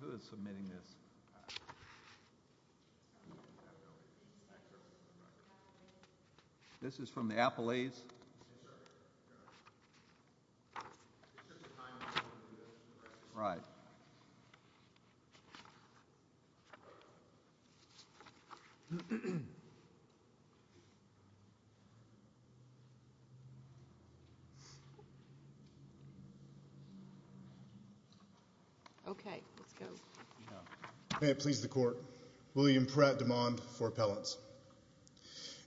Who is submitting this? This is from the Appalachians. Right. Okay, let's go. May it please the court. William Pratt demand for appellants.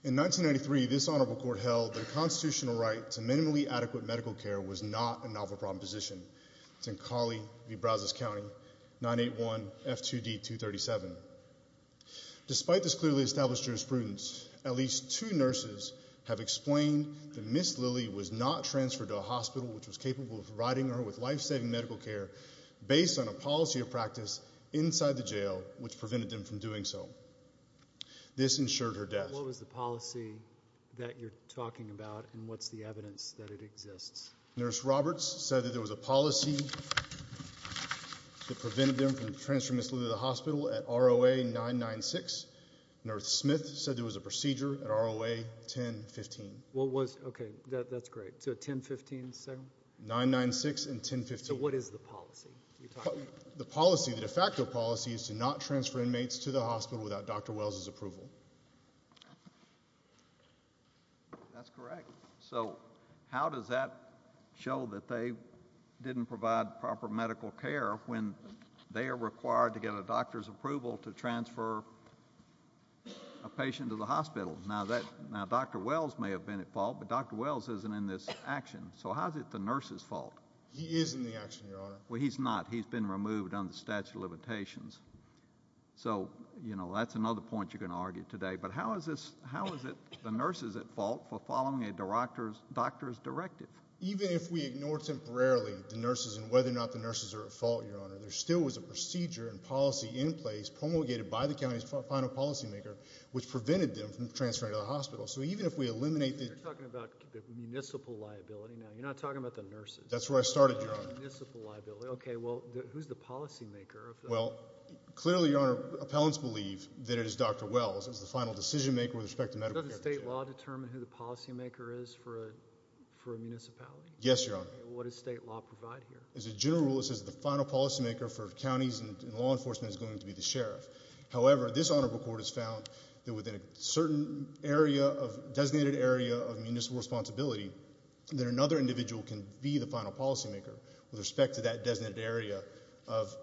In 1993 this honorable court held the constitutional right to minimally adequate medical care was not a novel proposition. It's in Colley v. Brazos County, 981 F2D 237. Despite this clearly established jurisprudence, at least two nurses have explained that Ms. Lilly was not transferred to a hospital which was capable of providing her with life-saving medical care based on a policy of practice inside the jail which prevented them from doing so. This ensured her death. What was the policy that you're talking about and what's the evidence that it exists? Nurse Roberts said that there was a policy that prevented them from transferring Ms. Lilly to the hospital at ROA 996. Nurse Smith said there was a procedure at ROA 1015. What was, okay, that's great. So 1015 is the second one? 996 and 1015. So what is the policy? The policy, the de facto policy is to not transfer inmates to the hospital without Dr. Wells' approval. That's correct. So how does that show that they didn't provide proper medical care when they are required to get a doctor's approval to transfer a patient to the hospital? Now, Dr. Wells may have been at fault, but Dr. Wells isn't in this action. So how is it the nurse's fault? He is in the action, Your Honor. Well, he's not. He's been removed under the statute of limitations. So, you know, that's another point you're going to argue today. But how is it the nurse's at fault for following a doctor's directive? Even if we ignore temporarily the nurses and whether or not the nurses are at fault, Your Honor, there still was a procedure and policy in place promulgated by the county's final policymaker which prevented them from transferring to the hospital. So even if we eliminate the – You're talking about municipal liability now. You're not talking about the nurses. That's where I started, Your Honor. Municipal liability. Okay, well, who's the policymaker? Well, clearly, Your Honor, appellants believe that it is Dr. Wells as the final decisionmaker with respect to medical care. Doesn't state law determine who the policymaker is for a municipality? Yes, Your Honor. What does state law provide here? As a general rule, it says the final policymaker for counties and law enforcement is going to be the sheriff. However, this honorable court has found that within a certain area of – designated area of municipal responsibility that another individual can be the final policymaker with respect to that designated area of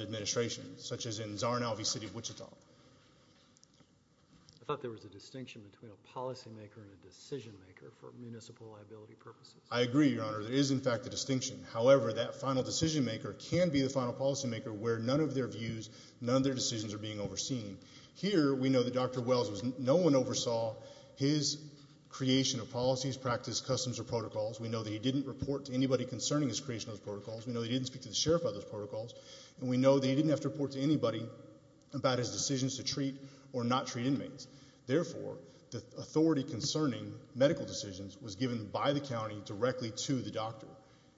administration, such as in Czar and Alvey City, Wichita. I thought there was a distinction between a policymaker and a decisionmaker for municipal liability purposes. I agree, Your Honor. There is, in fact, a distinction. However, that final decisionmaker can be the final policymaker where none of their views, none of their decisions are being overseen. Here we know that Dr. Wells was – no one oversaw his creation of policies, practice, customs, or protocols. We know that he didn't report to anybody concerning his creation of those protocols. We know that he didn't speak to the sheriff about those protocols. And we know that he didn't have to report to anybody about his decisions to treat or not treat inmates. Therefore, the authority concerning medical decisions was given by the county directly to the doctor,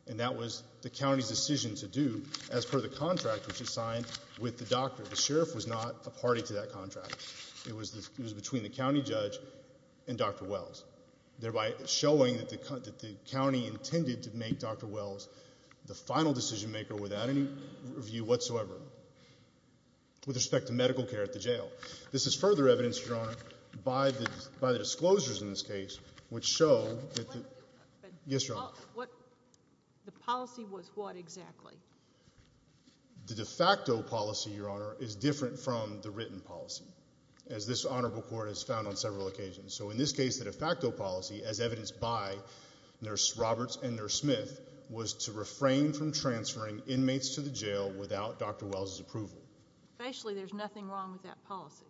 and that was the county's decision to do as per the contract which was signed with the doctor. The sheriff was not a party to that contract. It was between the county judge and Dr. Wells, thereby showing that the county intended to make Dr. Wells the final decisionmaker without any review whatsoever with respect to medical care at the jail. This is further evidenced, Your Honor, by the disclosures in this case which show that the – yes, Your Honor. The policy was what exactly? The de facto policy, Your Honor, is different from the written policy as this honorable court has found on several occasions. So in this case, the de facto policy, as evidenced by Nurse Roberts and Nurse Smith, was to refrain from transferring inmates to the jail without Dr. Wells' approval. Facially, there's nothing wrong with that policy.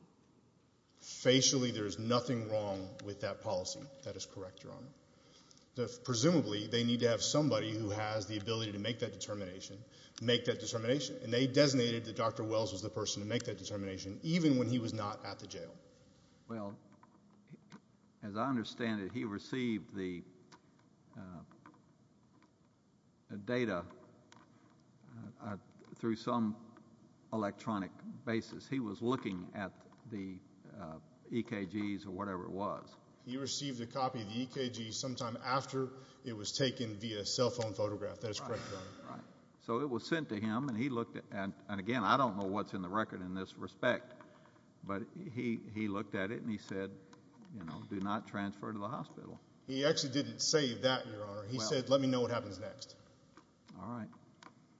Facially, there is nothing wrong with that policy. That is correct, Your Honor. Presumably, they need to have somebody who has the ability to make that determination, make that determination, and they designated that Dr. Wells was the person to make that determination even when he was not at the jail. Well, as I understand it, he received the data through some electronic basis. He was looking at the EKGs or whatever it was. He received a copy of the EKG sometime after it was taken via cell phone photograph. That is correct, Your Honor. Right. So it was sent to him, and he looked at – and again, I don't know what's in the record in this respect. But he looked at it, and he said, you know, do not transfer to the hospital. He actually didn't say that, Your Honor. He said, let me know what happens next. All right.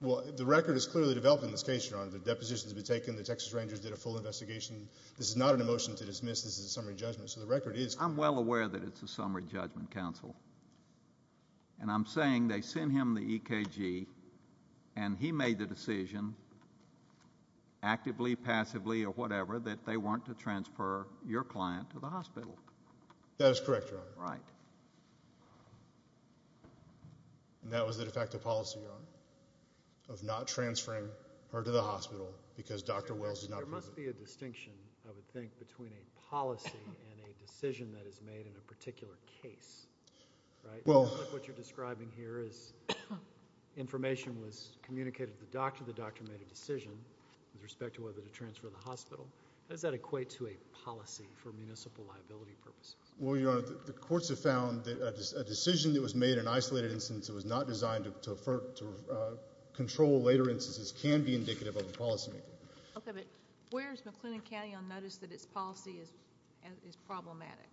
Well, the record is clearly developed in this case, Your Honor. The deposition has been taken. The Texas Rangers did a full investigation. This is not a motion to dismiss. This is a summary judgment. So the record is clear. I'm well aware that it's a summary judgment, counsel. And I'm saying they sent him the EKG, and he made the decision, actively, passively, or whatever, that they want to transfer your client to the hospital. That is correct, Your Honor. Right. And that was the defective policy, Your Honor, of not transferring her to the hospital because Dr. Wells is not present. There must be a distinction, I would think, between a policy and a decision that is made in a particular case. Right? What you're describing here is information was communicated to the doctor. The doctor made a decision with respect to whether to transfer the hospital. How does that equate to a policy for municipal liability purposes? Well, Your Honor, the courts have found that a decision that was made in an isolated instance that was not designed to control later instances can be indicative of a policymaking. Okay. But where is McLennan County on notice that its policy is problematic?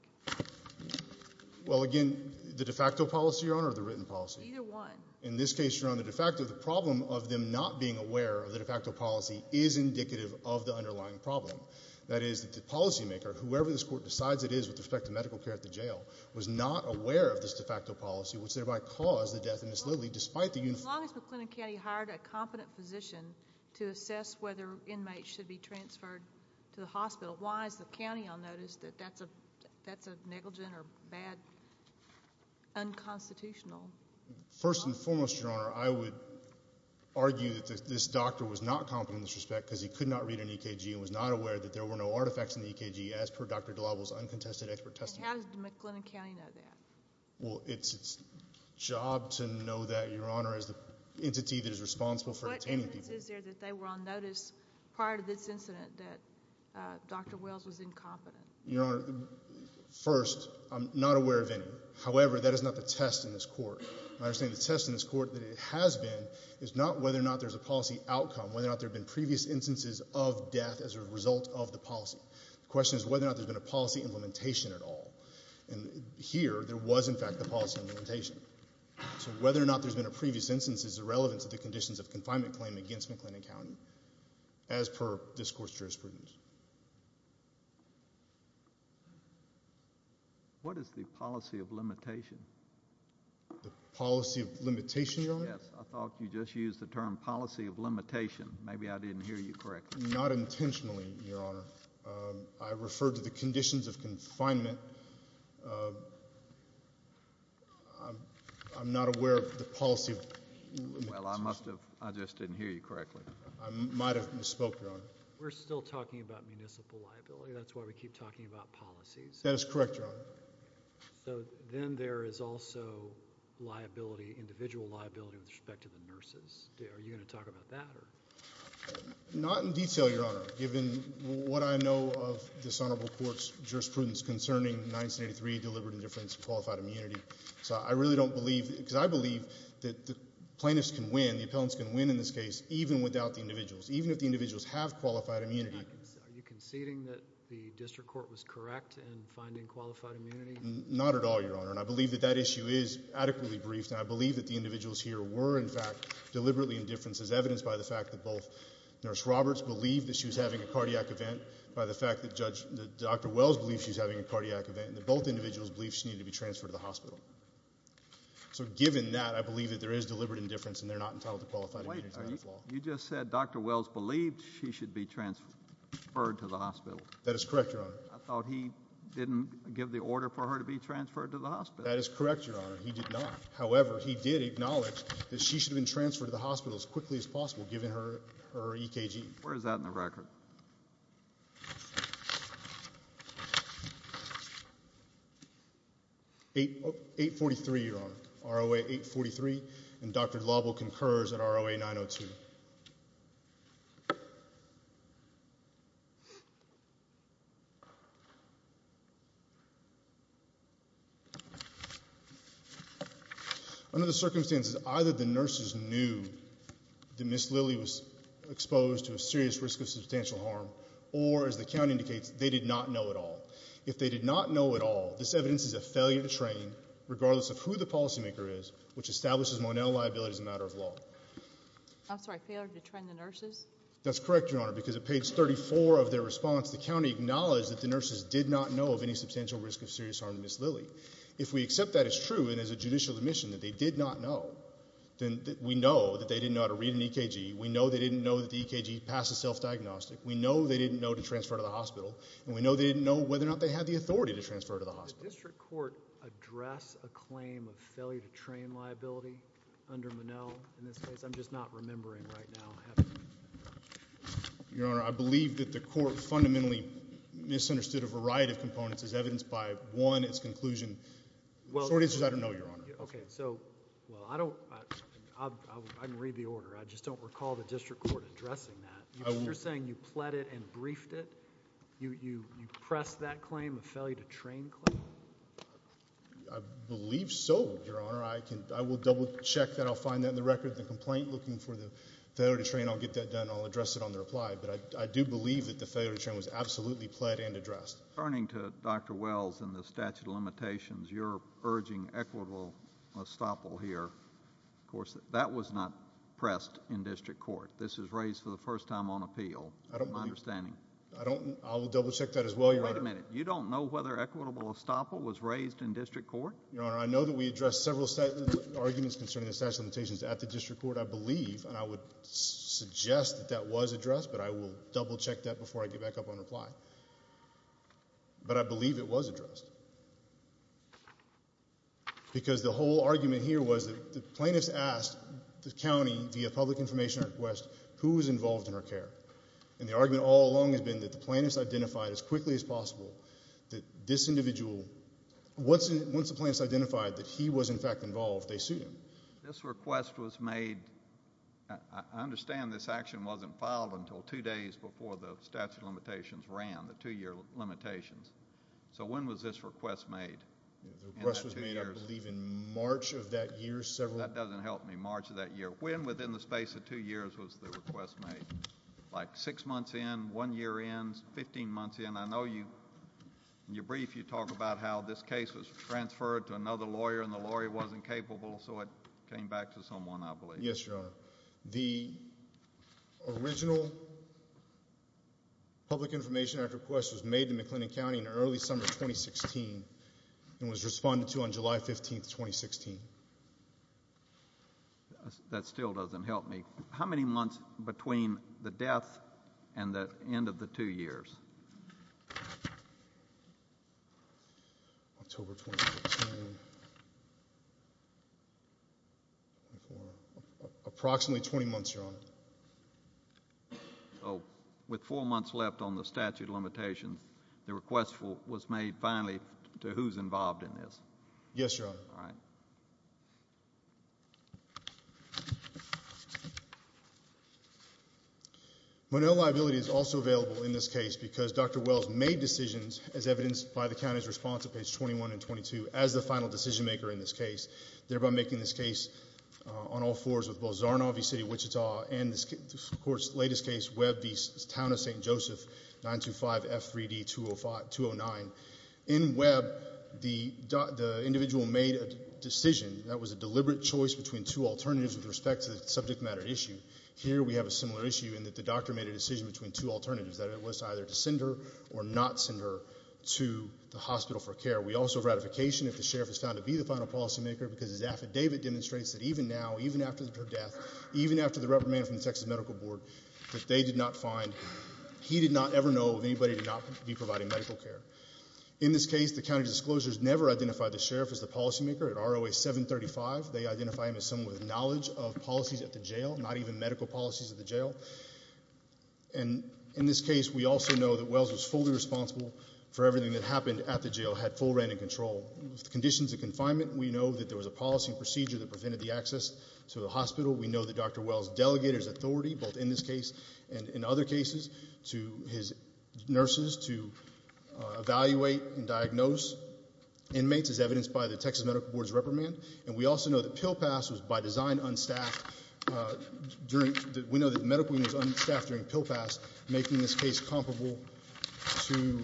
Well, again, the de facto policy, Your Honor, or the written policy? Either one. In this case, Your Honor, the de facto, the problem of them not being aware of the de facto policy is indicative of the underlying problem. That is that the policymaker, whoever this court decides it is with respect to medical care at the jail, was not aware of this de facto policy, which thereby caused the death and misliving despite the uniformity. If McLennan County hired a competent physician to assess whether inmates should be transferred to the hospital, why is the county on notice that that's a negligent or bad unconstitutional policy? First and foremost, Your Honor, I would argue that this doctor was not competent in this respect because he could not read an EKG and was not aware that there were no artifacts in the EKG as per Dr. DeLauvel's uncontested expert testimony. And how does McLennan County know that? Well, it's its job to know that, Your Honor, as the entity that is responsible for detaining people. What evidence is there that they were on notice prior to this incident that Dr. Wells was incompetent? Your Honor, first, I'm not aware of any. However, that is not the test in this court. My understanding of the test in this court that it has been is not whether or not there's a policy outcome, whether or not there have been previous instances of death as a result of the policy. The question is whether or not there's been a policy implementation at all. And here there was, in fact, the policy implementation. So whether or not there's been a previous instance is irrelevant to the conditions of confinement claim against McLennan County as per discourse jurisprudence. What is the policy of limitation? The policy of limitation, Your Honor? Yes, I thought you just used the term policy of limitation. Not intentionally, Your Honor. I referred to the conditions of confinement. I'm not aware of the policy of limitation. Well, I must have, I just didn't hear you correctly. I might have misspoke, Your Honor. We're still talking about municipal liability. That's why we keep talking about policies. That is correct, Your Honor. So then there is also liability, individual liability with respect to the nurses. Are you going to talk about that? Not in detail, Your Honor, given what I know of this honorable court's jurisprudence concerning 1983 deliberate indifference to qualified immunity. So I really don't believe, because I believe that the plaintiffs can win, the appellants can win in this case even without the individuals, even if the individuals have qualified immunity. Are you conceding that the district court was correct in finding qualified immunity? Not at all, Your Honor. And I believe that that issue is adequately briefed. And I believe that the individuals here were, in fact, deliberately indifference as evidenced by the fact that both Nurse Roberts believed that she was having a cardiac event, by the fact that Dr. Wells believed she was having a cardiac event, and that both individuals believed she needed to be transferred to the hospital. So given that, I believe that there is deliberate indifference and they're not entitled to qualified immunity. You just said Dr. Wells believed she should be transferred to the hospital. That is correct, Your Honor. I thought he didn't give the order for her to be transferred to the hospital. That is correct, Your Honor. He did not. However, he did acknowledge that she should have been transferred to the hospital as quickly as possible, given her EKG. Where is that in the record? 843, Your Honor, ROA 843. And Dr. Lobel concurs at ROA 902. Under the circumstances, either the nurses knew that Ms. Lilly was exposed to a serious risk of substantial harm, or, as the county indicates, they did not know at all. If they did not know at all, this evidence is a failure to train, regardless of who the policymaker is, which establishes Monell liability as a matter of law. I'm sorry, failure to train the nurses? That's correct, Your Honor, because at page 34 of their response, the county acknowledged that the nurses did not know of any substantial risk of serious harm to Ms. Lilly. If we accept that as true and as a judicial admission that they did not know, then we know that they didn't know how to read an EKG, we know they didn't know that the EKG passed as self-diagnostic, we know they didn't know to transfer her to the hospital, and we know they didn't know whether or not they had the authority to transfer her to the hospital. Did the district court address a claim of failure to train liability under Monell in this case? I'm just not remembering right now. Your Honor, I believe that the court fundamentally misunderstood a variety of components as evidenced by, one, its conclusion. The short answer is I don't know, Your Honor. Okay, so I can read the order. I just don't recall the district court addressing that. You're saying you pled it and briefed it? You pressed that claim, the failure to train claim? I believe so, Your Honor. I will double-check that. I'll find that in the record of the complaint looking for the failure to train. I'll get that done. I'll address it on the reply. But I do believe that the failure to train was absolutely pled and addressed. Returning to Dr. Wells and the statute of limitations, you're urging equitable estoppel here. Of course, that was not pressed in district court. This was raised for the first time on appeal, my understanding. I'll double-check that as well, Your Honor. Wait a minute. You don't know whether equitable estoppel was raised in district court? Your Honor, I know that we addressed several arguments concerning the statute of limitations at the district court, I believe, and I would suggest that that was addressed, but I will double-check that before I get back up on reply. But I believe it was addressed. Because the whole argument here was that the plaintiffs asked the county, via public information request, who was involved in her care. And the argument all along has been that the plaintiffs identified as quickly as possible that this individual, once the plaintiffs identified that he was, in fact, involved, they sued him. This request was made, I understand this action wasn't filed until two days before the statute of limitations ran, the two-year limitations. So when was this request made? The request was made, I believe, in March of that year. That doesn't help me. March of that year. When within the space of two years was the request made? Like six months in, one year in, 15 months in? I know in your brief you talk about how this case was transferred to another lawyer and the lawyer wasn't capable, so it came back to someone, I believe. Yes, Your Honor. The original public information request was made to McLennan County in early summer of 2016 and was responded to on July 15, 2016. That still doesn't help me. How many months between the death and the end of the two years? October 2016. Approximately 20 months, Your Honor. So with four months left on the statute of limitations, the request was made finally to who's involved in this? Yes, Your Honor. All right. Monell liability is also available in this case because Dr. Wells made decisions as evidenced by the county's response at page 21 and 22 as the final decision maker in this case, thereby making this case on all fours with both Zarnoff v. City of Wichita and, of course, the latest case, Webb v. Town of St. Joseph, 925F3D209. In Webb, the individual made a decision that was a deliberate choice between two alternatives with respect to the subject matter issue. Here we have a similar issue in that the doctor made a decision between two alternatives, that it was either to send her or not send her to the hospital for care. We also have ratification if the sheriff is found to be the final policymaker because his affidavit demonstrates that even now, even after her death, even after the reprimand from the Texas Medical Board, that they did not find, he did not ever know of anybody to not be providing medical care. In this case, the county disclosures never identified the sheriff as the policymaker. At ROA 735, they identify him as someone with knowledge of policies at the jail, not even medical policies at the jail. And in this case, we also know that Wells was fully responsible for everything that happened at the jail, had full reign and control. With conditions of confinement, we know that there was a policy procedure that prevented the access to the hospital. We know that Dr. Wells delegated his authority, both in this case and in other cases, to his nurses to evaluate and diagnose inmates, as evidenced by the Texas Medical Board's reprimand. And we also know that pill pass was by design unstaffed during the – we know that the medical unit was unstaffed during pill pass, making this case comparable to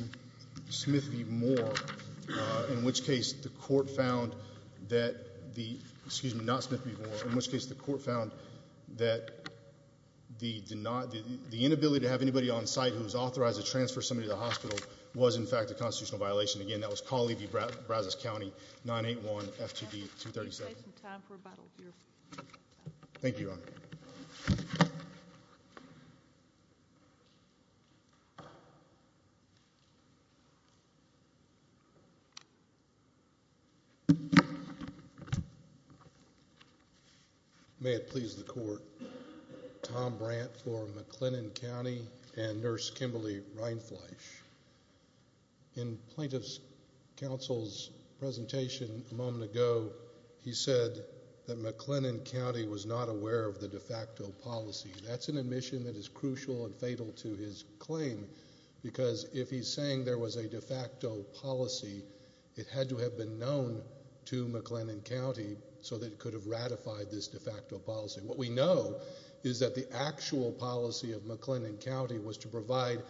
Smith v. Moore, in which case the court found that the – excuse me, not Smith v. Moore, in which case the court found that the inability to have anybody on site who was authorized to transfer somebody to the hospital was, in fact, a constitutional violation. Again, that was Colley v. Brazos County, 981 FTV 237. We're going to take some time for rebuttal here. Thank you, Your Honor. May it please the court. Tom Brant for McLennan County and Nurse Kimberly Reinfleisch. In plaintiff's counsel's presentation a moment ago, he said that McLennan County was not aware of the de facto policy. That's an admission that is crucial and fatal to his claim because if he's saying there was a de facto policy, it had to have been known to McLennan County so that it could have ratified this de facto policy. What we know is that the actual policy of McLennan County was to provide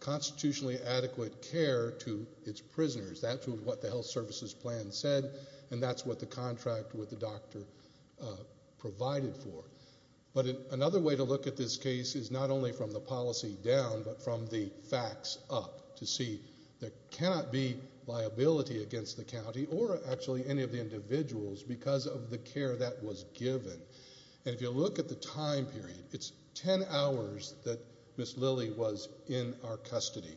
constitutionally adequate care to its prisoners. That's what the health services plan said, and that's what the contract with the doctor provided for. But another way to look at this case is not only from the policy down, but from the facts up to see there cannot be liability against the county or actually any of the individuals because of the care that was given. If you look at the time period, it's 10 hours that Ms. Lilly was in our custody.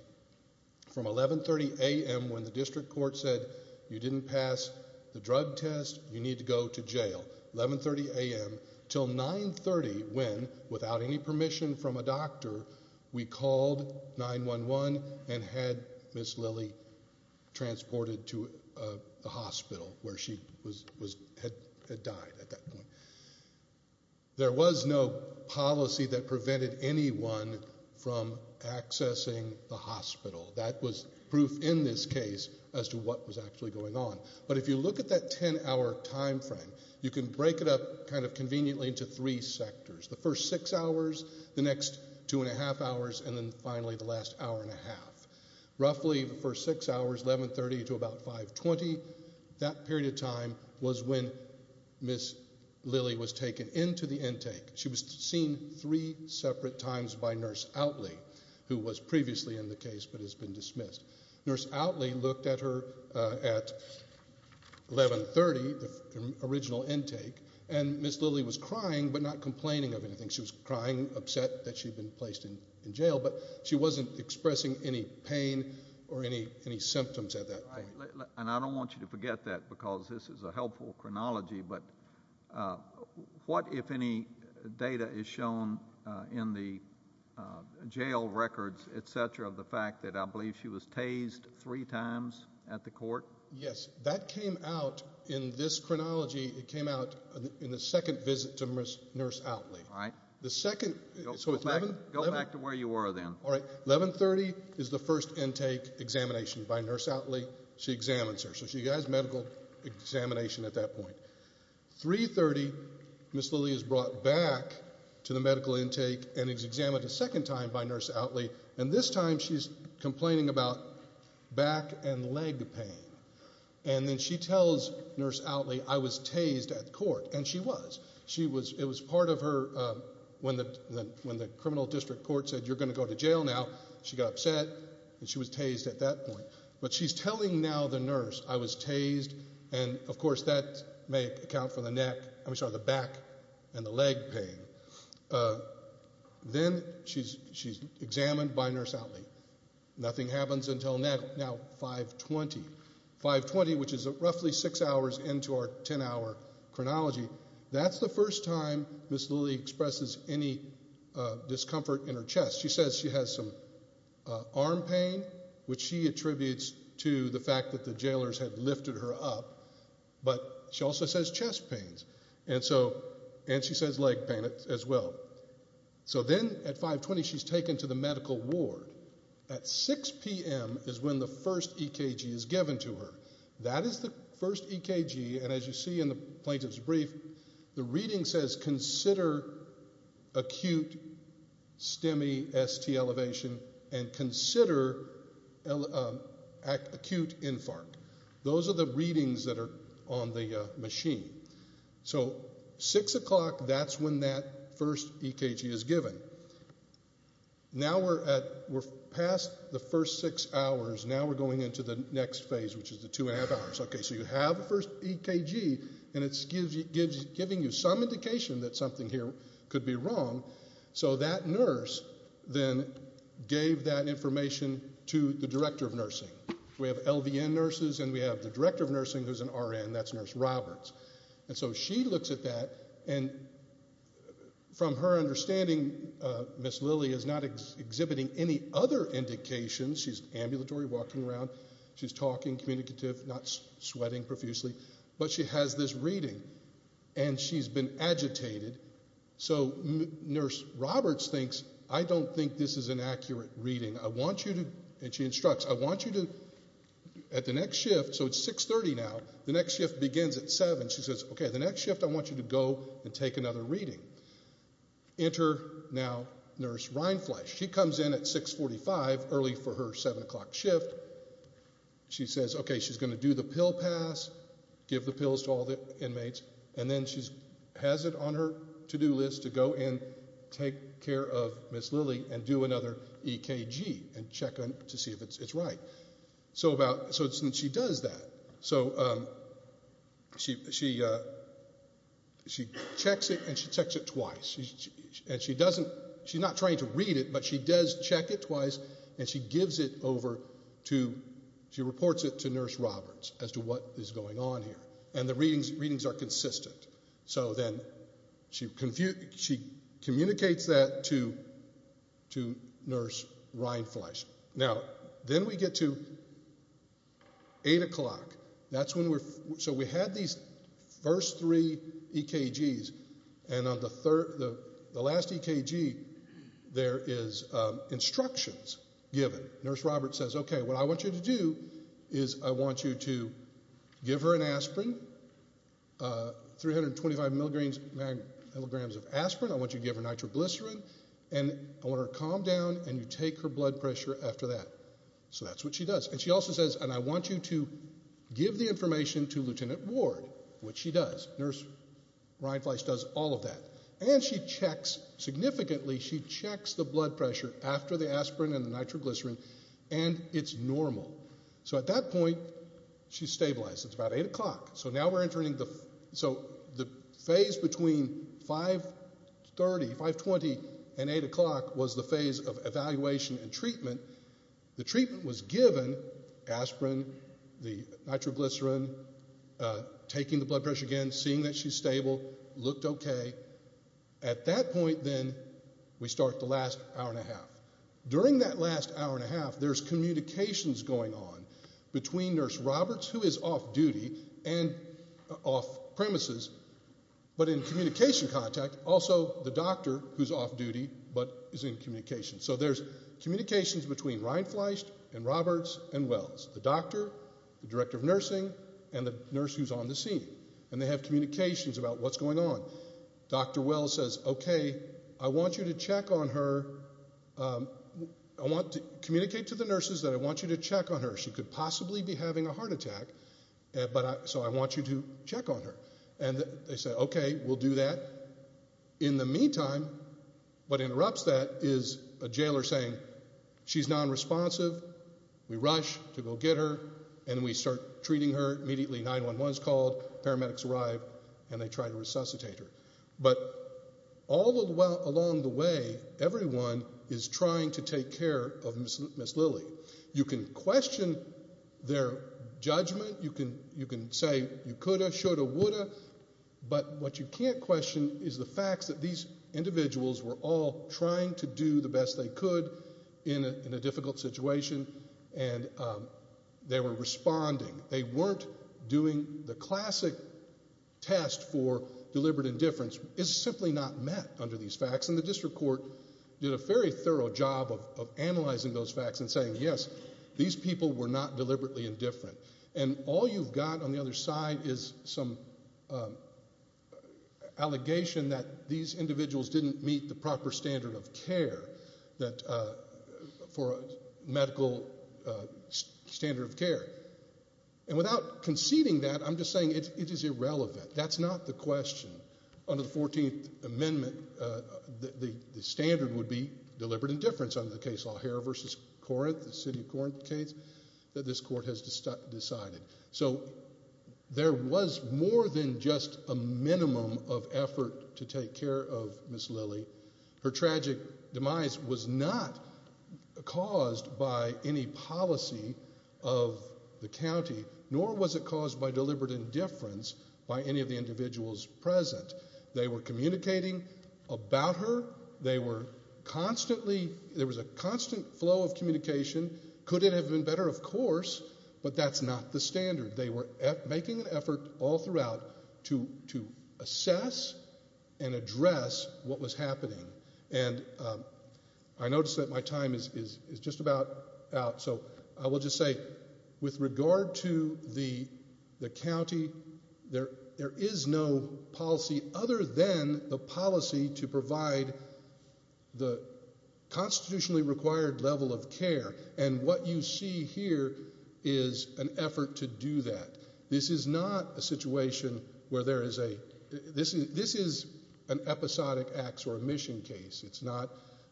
From 1130 a.m. when the district court said you didn't pass the drug test, you need to go to jail, 1130 a.m. until 930 when, without any permission from a doctor, we called 911 and had Ms. Lilly transported to a hospital where she had died at that point. There was no policy that prevented anyone from accessing the hospital. That was proof in this case as to what was actually going on. But if you look at that 10-hour time frame, you can break it up kind of conveniently into three sectors, the first six hours, the next two and a half hours, and then finally the last hour and a half. Roughly the first six hours, 1130 to about 520, that period of time was when Ms. Lilly was taken into the intake. She was seen three separate times by Nurse Outley, who was previously in the case but has been dismissed. Nurse Outley looked at her at 1130, the original intake, and Ms. Lilly was crying but not complaining of anything. She was crying, upset that she had been placed in jail, but she wasn't expressing any pain or any symptoms at that point. And I don't want you to forget that because this is a helpful chronology, but what, if any, data is shown in the jail records, et cetera, of the fact that I believe she was tased three times at the court? Yes, that came out in this chronology, it came out in the second visit to Nurse Outley. Go back to where you were then. 1130 is the first intake examination by Nurse Outley. She examines her, so she has medical examination at that point. 330, Ms. Lilly is brought back to the medical intake and is examined a second time by Nurse Outley, and this time she's complaining about back and leg pain. And then she tells Nurse Outley, I was tased at court, and she was. It was part of her, when the criminal district court said, you're going to go to jail now, she got upset and she was tased at that point. But she's telling now the nurse, I was tased, and of course that may account for the back and the leg pain. Then she's examined by Nurse Outley. Nothing happens until now, 520. 520, which is roughly six hours into our 10-hour chronology, that's the first time Ms. Lilly expresses any discomfort in her chest. She says she has some arm pain, which she attributes to the fact that the jailers had lifted her up. But she also says chest pains, and she says leg pain as well. So then at 520 she's taken to the medical ward. At 6 p.m. is when the first EKG is given to her. That is the first EKG, and as you see in the plaintiff's brief, the reading says consider acute STEMI ST elevation and consider acute infarct. Those are the readings that are on the machine. So 6 o'clock, that's when that first EKG is given. Now we're past the first six hours. Now we're going into the next phase, which is the two and a half hours. So you have the first EKG, and it's giving you some indication that something here could be wrong. So that nurse then gave that information to the director of nursing. We have LVN nurses and we have the director of nursing who's an RN. That's Nurse Roberts. So she looks at that, and from her understanding, Ms. Lilly is not exhibiting any other indications. She's ambulatory, walking around. She's talking, communicative, not sweating profusely. But she has this reading, and she's been agitated. So Nurse Roberts thinks, I don't think this is an accurate reading. I want you to, and she instructs, I want you to, at the next shift, so it's 6.30 now, the next shift begins at 7. She says, okay, the next shift I want you to go and take another reading. Enter now Nurse Reinfleisch. She comes in at 6.45, early for her 7 o'clock shift. She says, okay, she's going to do the pill pass, give the pills to all the inmates, and then she has it on her to-do list to go and take care of Ms. Lilly and do another EKG and check to see if it's right. So she does that. So she checks it, and she checks it twice. She's not trying to read it, but she does check it twice, and she gives it over to, she reports it to Nurse Roberts as to what is going on here. And the readings are consistent. So then she communicates that to Nurse Reinfleisch. Now, then we get to 8 o'clock. So we had these first three EKGs, and on the last EKG there is instructions given. Nurse Roberts says, okay, what I want you to do is I want you to give her an aspirin, 325 milligrams of aspirin. I want you to give her nitroglycerin, and I want her to calm down, and you take her blood pressure after that. So that's what she does. And she also says, and I want you to give the information to Lieutenant Ward, which she does. Nurse Reinfleisch does all of that. And she checks significantly. She checks the blood pressure after the aspirin and the nitroglycerin, and it's normal. So at that point, she's stabilized. It's about 8 o'clock. So now we're entering the phase between 530, 520, and 8 o'clock was the phase of evaluation and treatment. The treatment was given, aspirin, the nitroglycerin, taking the blood pressure again, seeing that she's stable, looked okay. At that point, then, we start the last hour and a half. During that last hour and a half, there's communications going on between Nurse Roberts, who is off-duty and off-premises, but in communication contact, also the doctor, who's off-duty but is in communication. So there's communications between Reinfleisch and Roberts and Wells, the doctor, the director of nursing, and the nurse who's on the scene. And they have communications about what's going on. Dr. Wells says, okay, I want you to check on her. I want to communicate to the nurses that I want you to check on her. She could possibly be having a heart attack, so I want you to check on her. And they say, okay, we'll do that. In the meantime, what interrupts that is a jailer saying, she's nonresponsive, we rush to go get her, and we start treating her immediately. 911 is called, paramedics arrive, and they try to resuscitate her. But all along the way, everyone is trying to take care of Ms. Lilly. You can question their judgment. You can say you could have, should have, would have. But what you can't question is the fact that these individuals were all trying to do the best they could in a difficult situation, and they were responding. They weren't doing the classic test for deliberate indifference. It's simply not met under these facts. And the district court did a very thorough job of analyzing those facts and saying, yes, these people were not deliberately indifferent. And all you've got on the other side is some allegation that these individuals didn't meet the proper standard of care for a medical standard of care. And without conceding that, I'm just saying it is irrelevant. That's not the question. Under the 14th Amendment, the standard would be deliberate indifference. Under the case O'Hare v. Corinth, the city of Corinth case, that this court has decided. So there was more than just a minimum of effort to take care of Ms. Lilly. Her tragic demise was not caused by any policy of the county, nor was it caused by deliberate indifference by any of the individuals present. They were communicating about her. There was a constant flow of communication. Could it have been better? Of course. But that's not the standard. They were making an effort all throughout to assess and address what was happening. And I notice that my time is just about out, so I will just say with regard to the county, there is no policy other than the policy to provide the constitutionally required level of care. And what you see here is an effort to do that. This is not a situation where there is a – this is an episodic acts or omission case. It's not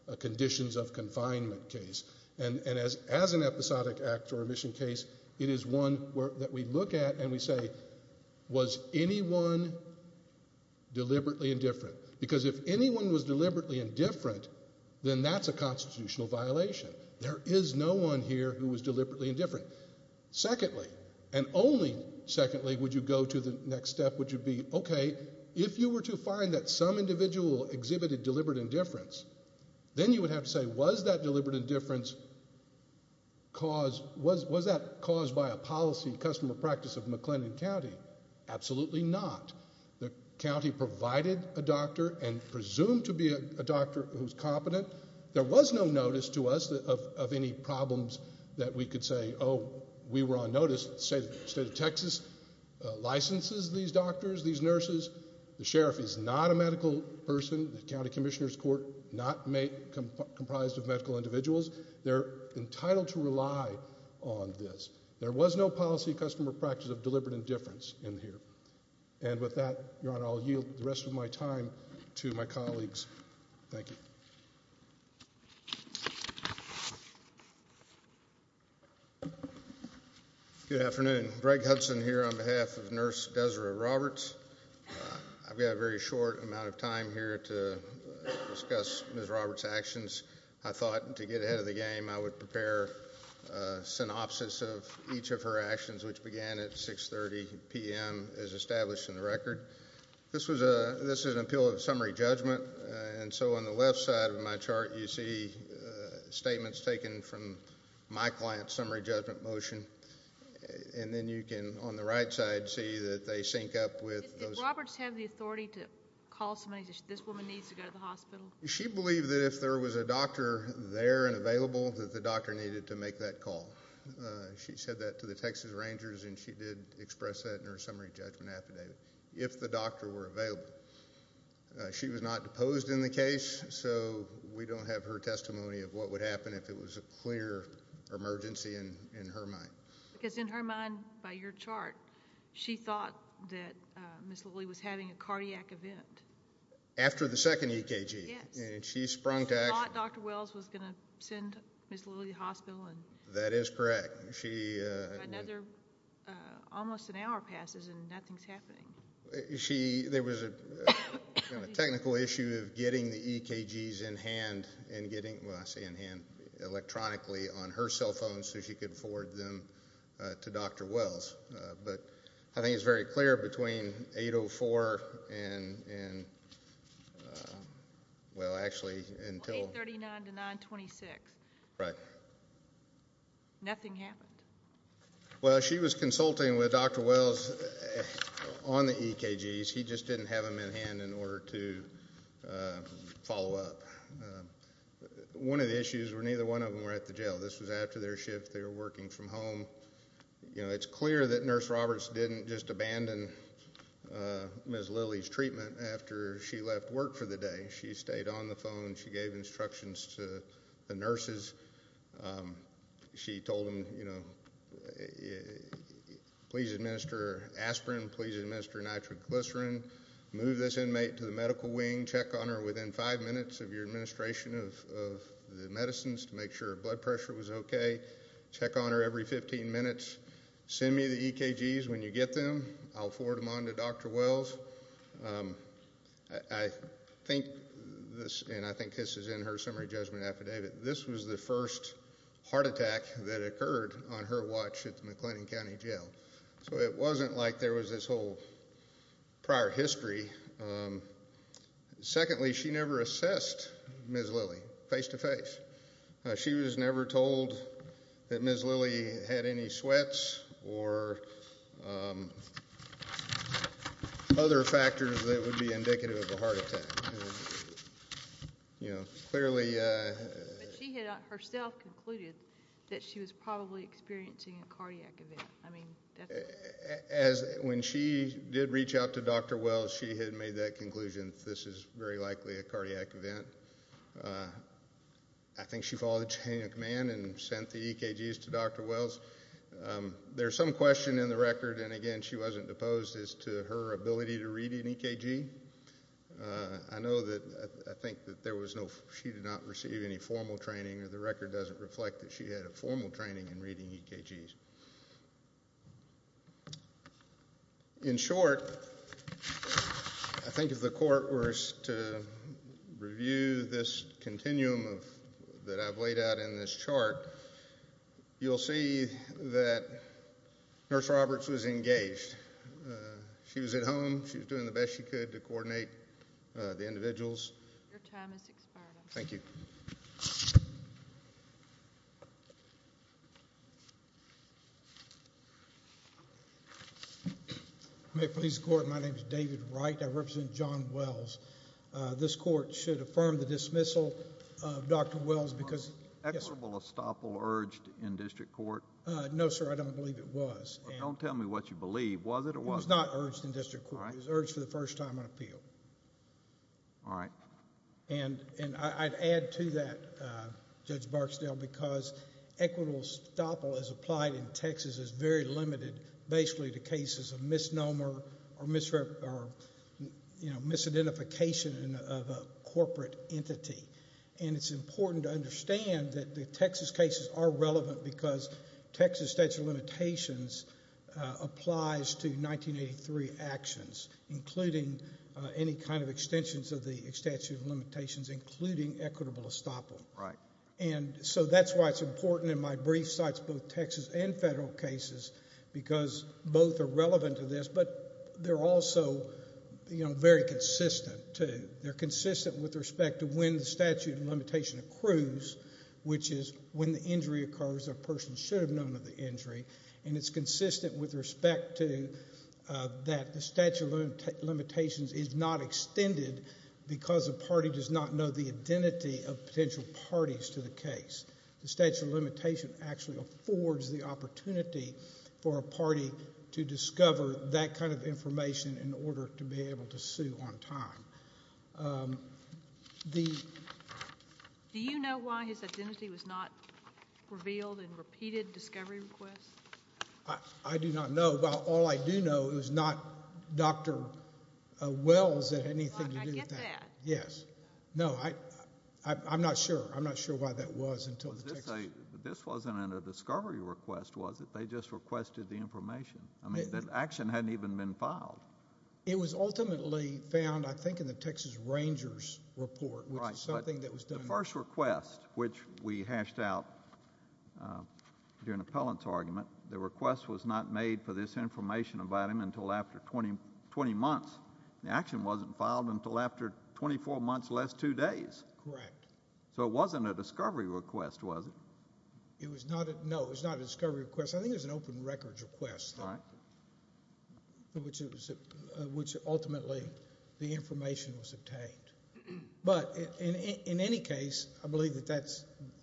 a conditions of confinement case. And as an episodic acts or omission case, it is one that we look at and we say, was anyone deliberately indifferent? Because if anyone was deliberately indifferent, then that's a constitutional violation. There is no one here who was deliberately indifferent. Secondly, and only secondly would you go to the next step, which would be, okay, if you were to find that some individual exhibited deliberate indifference, then you would have to say, was that deliberate indifference caused – was that caused by a policy customer practice of McLennan County? Absolutely not. The county provided a doctor and presumed to be a doctor who's competent. There was no notice to us of any problems that we could say, oh, we were on notice. The state of Texas licenses these doctors, these nurses. The sheriff is not a medical person. The county commissioner's court not comprised of medical individuals. They're entitled to rely on this. There was no policy customer practice of deliberate indifference in here. And with that, Your Honor, I'll yield the rest of my time to my colleagues. Thank you. Good afternoon. Greg Hudson here on behalf of Nurse Desiree Roberts. I've got a very short amount of time here to discuss Ms. Roberts' actions. I thought to get ahead of the game I would prepare a synopsis of each of her actions, which began at 6.30 p.m. as established in the record. This is an appeal of summary judgment, and so on the left side of my chart you see statements taken from my client's summary judgment motion. And then you can, on the right side, see that they sync up with those. Did Roberts have the authority to call somebody and say, this woman needs to go to the hospital? She believed that if there was a doctor there and available, that the doctor needed to make that call. She said that to the Texas Rangers, and she did express that in her summary judgment affidavit, if the doctor were available. She was not deposed in the case, so we don't have her testimony of what would happen if it was a clear emergency in her mind. Because in her mind, by your chart, she thought that Ms. Lilly was having a cardiac event. After the second EKG. Yes. And she sprung to action. She thought Dr. Wells was going to send Ms. Lilly to the hospital. That is correct. Another almost an hour passes and nothing's happening. There was a technical issue of getting the EKGs in hand, well, I say in hand, electronically on her cell phone so she could forward them to Dr. Wells. But I think it's very clear between 8.04 and, well, actually until 8.39 to 9.26. Right. Nothing happened. Well, she was consulting with Dr. Wells on the EKGs. He just didn't have them in hand in order to follow up. One of the issues was neither one of them were at the jail. This was after their shift. They were working from home. You know, it's clear that Nurse Roberts didn't just abandon Ms. Lilly's treatment after she left work for the day. She stayed on the phone. She gave instructions to the nurses. She told them, you know, please administer aspirin. Please administer nitroglycerin. Move this inmate to the medical wing. Check on her within five minutes of your administration of the medicines to make sure her blood pressure was okay. Check on her every 15 minutes. Send me the EKGs when you get them. I'll forward them on to Dr. Wells. I think this is in her summary judgment affidavit. This was the first heart attack that occurred on her watch at the McLennan County Jail. So it wasn't like there was this whole prior history. Secondly, she never assessed Ms. Lilly face-to-face. She was never told that Ms. Lilly had any sweats or other factors that would be indicative of a heart attack. You know, clearly... But she had herself concluded that she was probably experiencing a cardiac event. I mean, that's... As when she did reach out to Dr. Wells, she had made that conclusion. This is very likely a cardiac event. I think she followed the chain of command and sent the EKGs to Dr. Wells. There's some question in the record, and, again, she wasn't deposed as to her ability to read an EKG. I know that I think that there was no... She did not receive any formal training, or the record doesn't reflect that she had a formal training in reading EKGs. In short, I think if the court were to review this continuum that I've laid out in this chart, you'll see that Nurse Roberts was engaged. She was at home. She was doing the best she could to coordinate the individuals. Your time has expired. Thank you. May it please the Court, my name is David Wright. I represent John Wells. This court should affirm the dismissal of Dr. Wells because... Was equitable estoppel urged in district court? No, sir, I don't believe it was. Well, don't tell me what you believe. Was it or wasn't it? No, it was not urged in district court. It was urged for the first time on appeal. All right. I'd add to that, Judge Barksdale, because equitable estoppel as applied in Texas is very limited basically to cases of misnomer or misidentification of a corporate entity. It's important to understand that the Texas cases are relevant because Texas statute of limitations applies to 1983 actions, including any kind of extensions of the statute of limitations, including equitable estoppel. Right. And so that's why it's important in my brief sites, both Texas and federal cases, because both are relevant to this, but they're also very consistent, too. They're consistent with respect to when the statute of limitation accrues, which is when the injury occurs, a person should have known of the injury, and it's consistent with respect to that the statute of limitations is not extended because a party does not know the identity of potential parties to the case. The statute of limitation actually affords the opportunity for a party to discover that kind of information in order to be able to sue on time. Do you know why his identity was not revealed in repeated discovery requests? I do not know. All I do know is it was not Dr. Wells that had anything to do with that. I get that. Yes. No, I'm not sure. I'm not sure why that was until the Texas. This wasn't in a discovery request, was it? They just requested the information. I mean, the action hadn't even been filed. It was ultimately found, I think, in the Texas Rangers report, which is something that was done. Right, but the first request, which we hashed out during an appellant's argument, the request was not made for this information about him until after 20 months. The action wasn't filed until after 24 months less two days. Correct. So it wasn't a discovery request, was it? No, it was not a discovery request. I think it was an open records request, which ultimately the information was obtained. But in any case, I believe that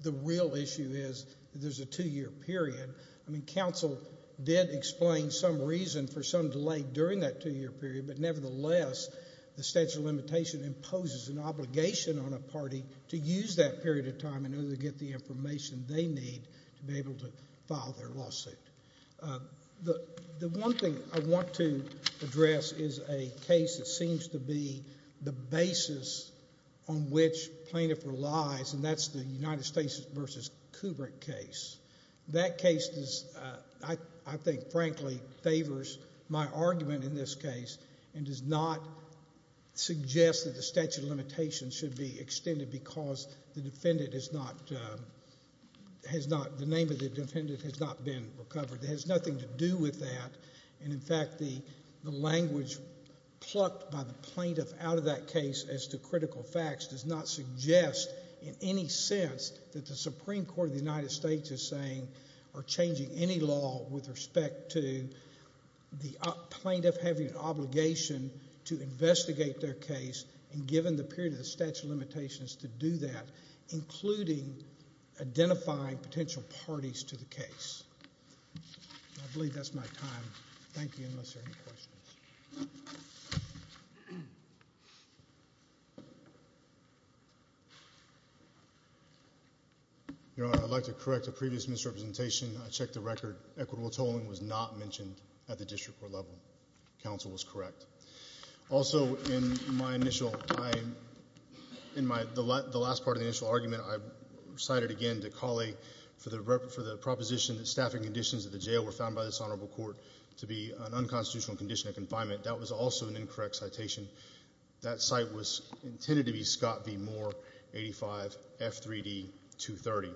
the real issue is there's a two-year period. I mean, counsel did explain some reason for some delay during that two-year period, but nevertheless the statute of limitation imposes an obligation on a party to use that period of time in order to get the information they need to be able to file their lawsuit. The one thing I want to address is a case that seems to be the basis on which plaintiff relies, and that's the United States v. Kubrick case. That case, I think, frankly favors my argument in this case and does not suggest that the statute of limitation should be extended because the name of the defendant has not been recovered. It has nothing to do with that. And, in fact, the language plucked by the plaintiff out of that case as to critical facts does not suggest in any sense that the Supreme Court of the United States is saying or changing any law with respect to the plaintiff having an obligation to investigate their case and given the period of the statute of limitations to do that, including identifying potential parties to the case. I believe that's my time. Thank you, unless there are any questions. Thank you. Your Honor, I'd like to correct a previous misrepresentation. I checked the record. Equitable tolling was not mentioned at the district court level. Counsel was correct. Also, in my initial time, in the last part of the initial argument, I cited again DeCauley for the proposition that staffing conditions at the jail were found by this honorable court to be an unconstitutional condition of confinement. That was also an incorrect citation. That site was intended to be Scott v. Moore, 85, F3D, 230.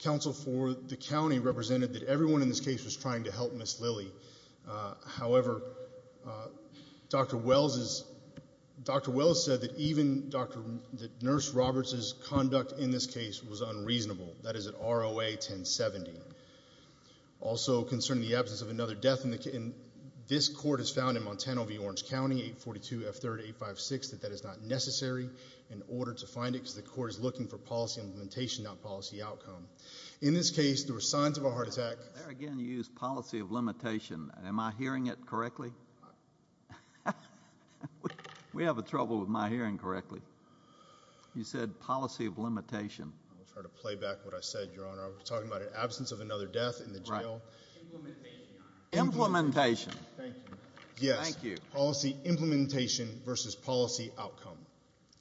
Counsel for the county represented that everyone in this case was trying to help Ms. Lilly. However, Dr. Wells said that even Nurse Roberts' conduct in this case was unreasonable. That is an ROA 1070. Also, concerning the absence of another death in the case, this court has found in Montana v. Orange County, 842 F3rd 856, that that is not necessary in order to find it because the court is looking for policy implementation, not policy outcome. In this case, there were signs of a heart attack. There again you used policy of limitation. Am I hearing it correctly? We have trouble with my hearing correctly. You said policy of limitation. I'll try to play back what I said, Your Honor. I was talking about an absence of another death in the jail. Right. Implementation, Your Honor. Implementation. Thank you. Yes. Thank you. Policy implementation versus policy outcome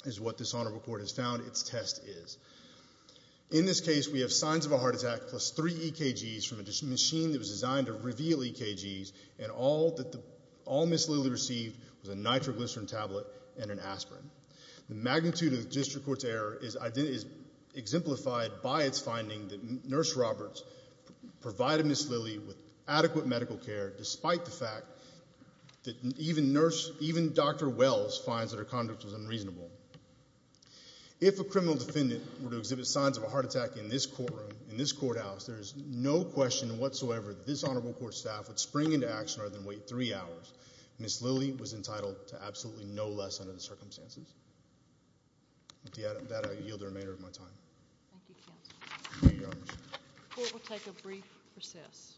is what this honorable court has found its test is. In this case, we have signs of a heart attack plus three EKGs from a machine that was designed to reveal EKGs, and all Ms. Lilly received was a nitroglycerin tablet and an aspirin. The magnitude of the district court's error is exemplified by its finding that Nurse Roberts provided Ms. Lilly with adequate medical care despite the fact that even Dr. Wells finds that her conduct was unreasonable. If a criminal defendant were to exhibit signs of a heart attack in this courtroom, in this courthouse, there is no question whatsoever that this honorable court staff would spring into action rather than wait three hours. Ms. Lilly was entitled to absolutely no less under the circumstances. With that, I yield the remainder of my time. Thank you, counsel. Thank you, Your Honor. The court will take a brief recess.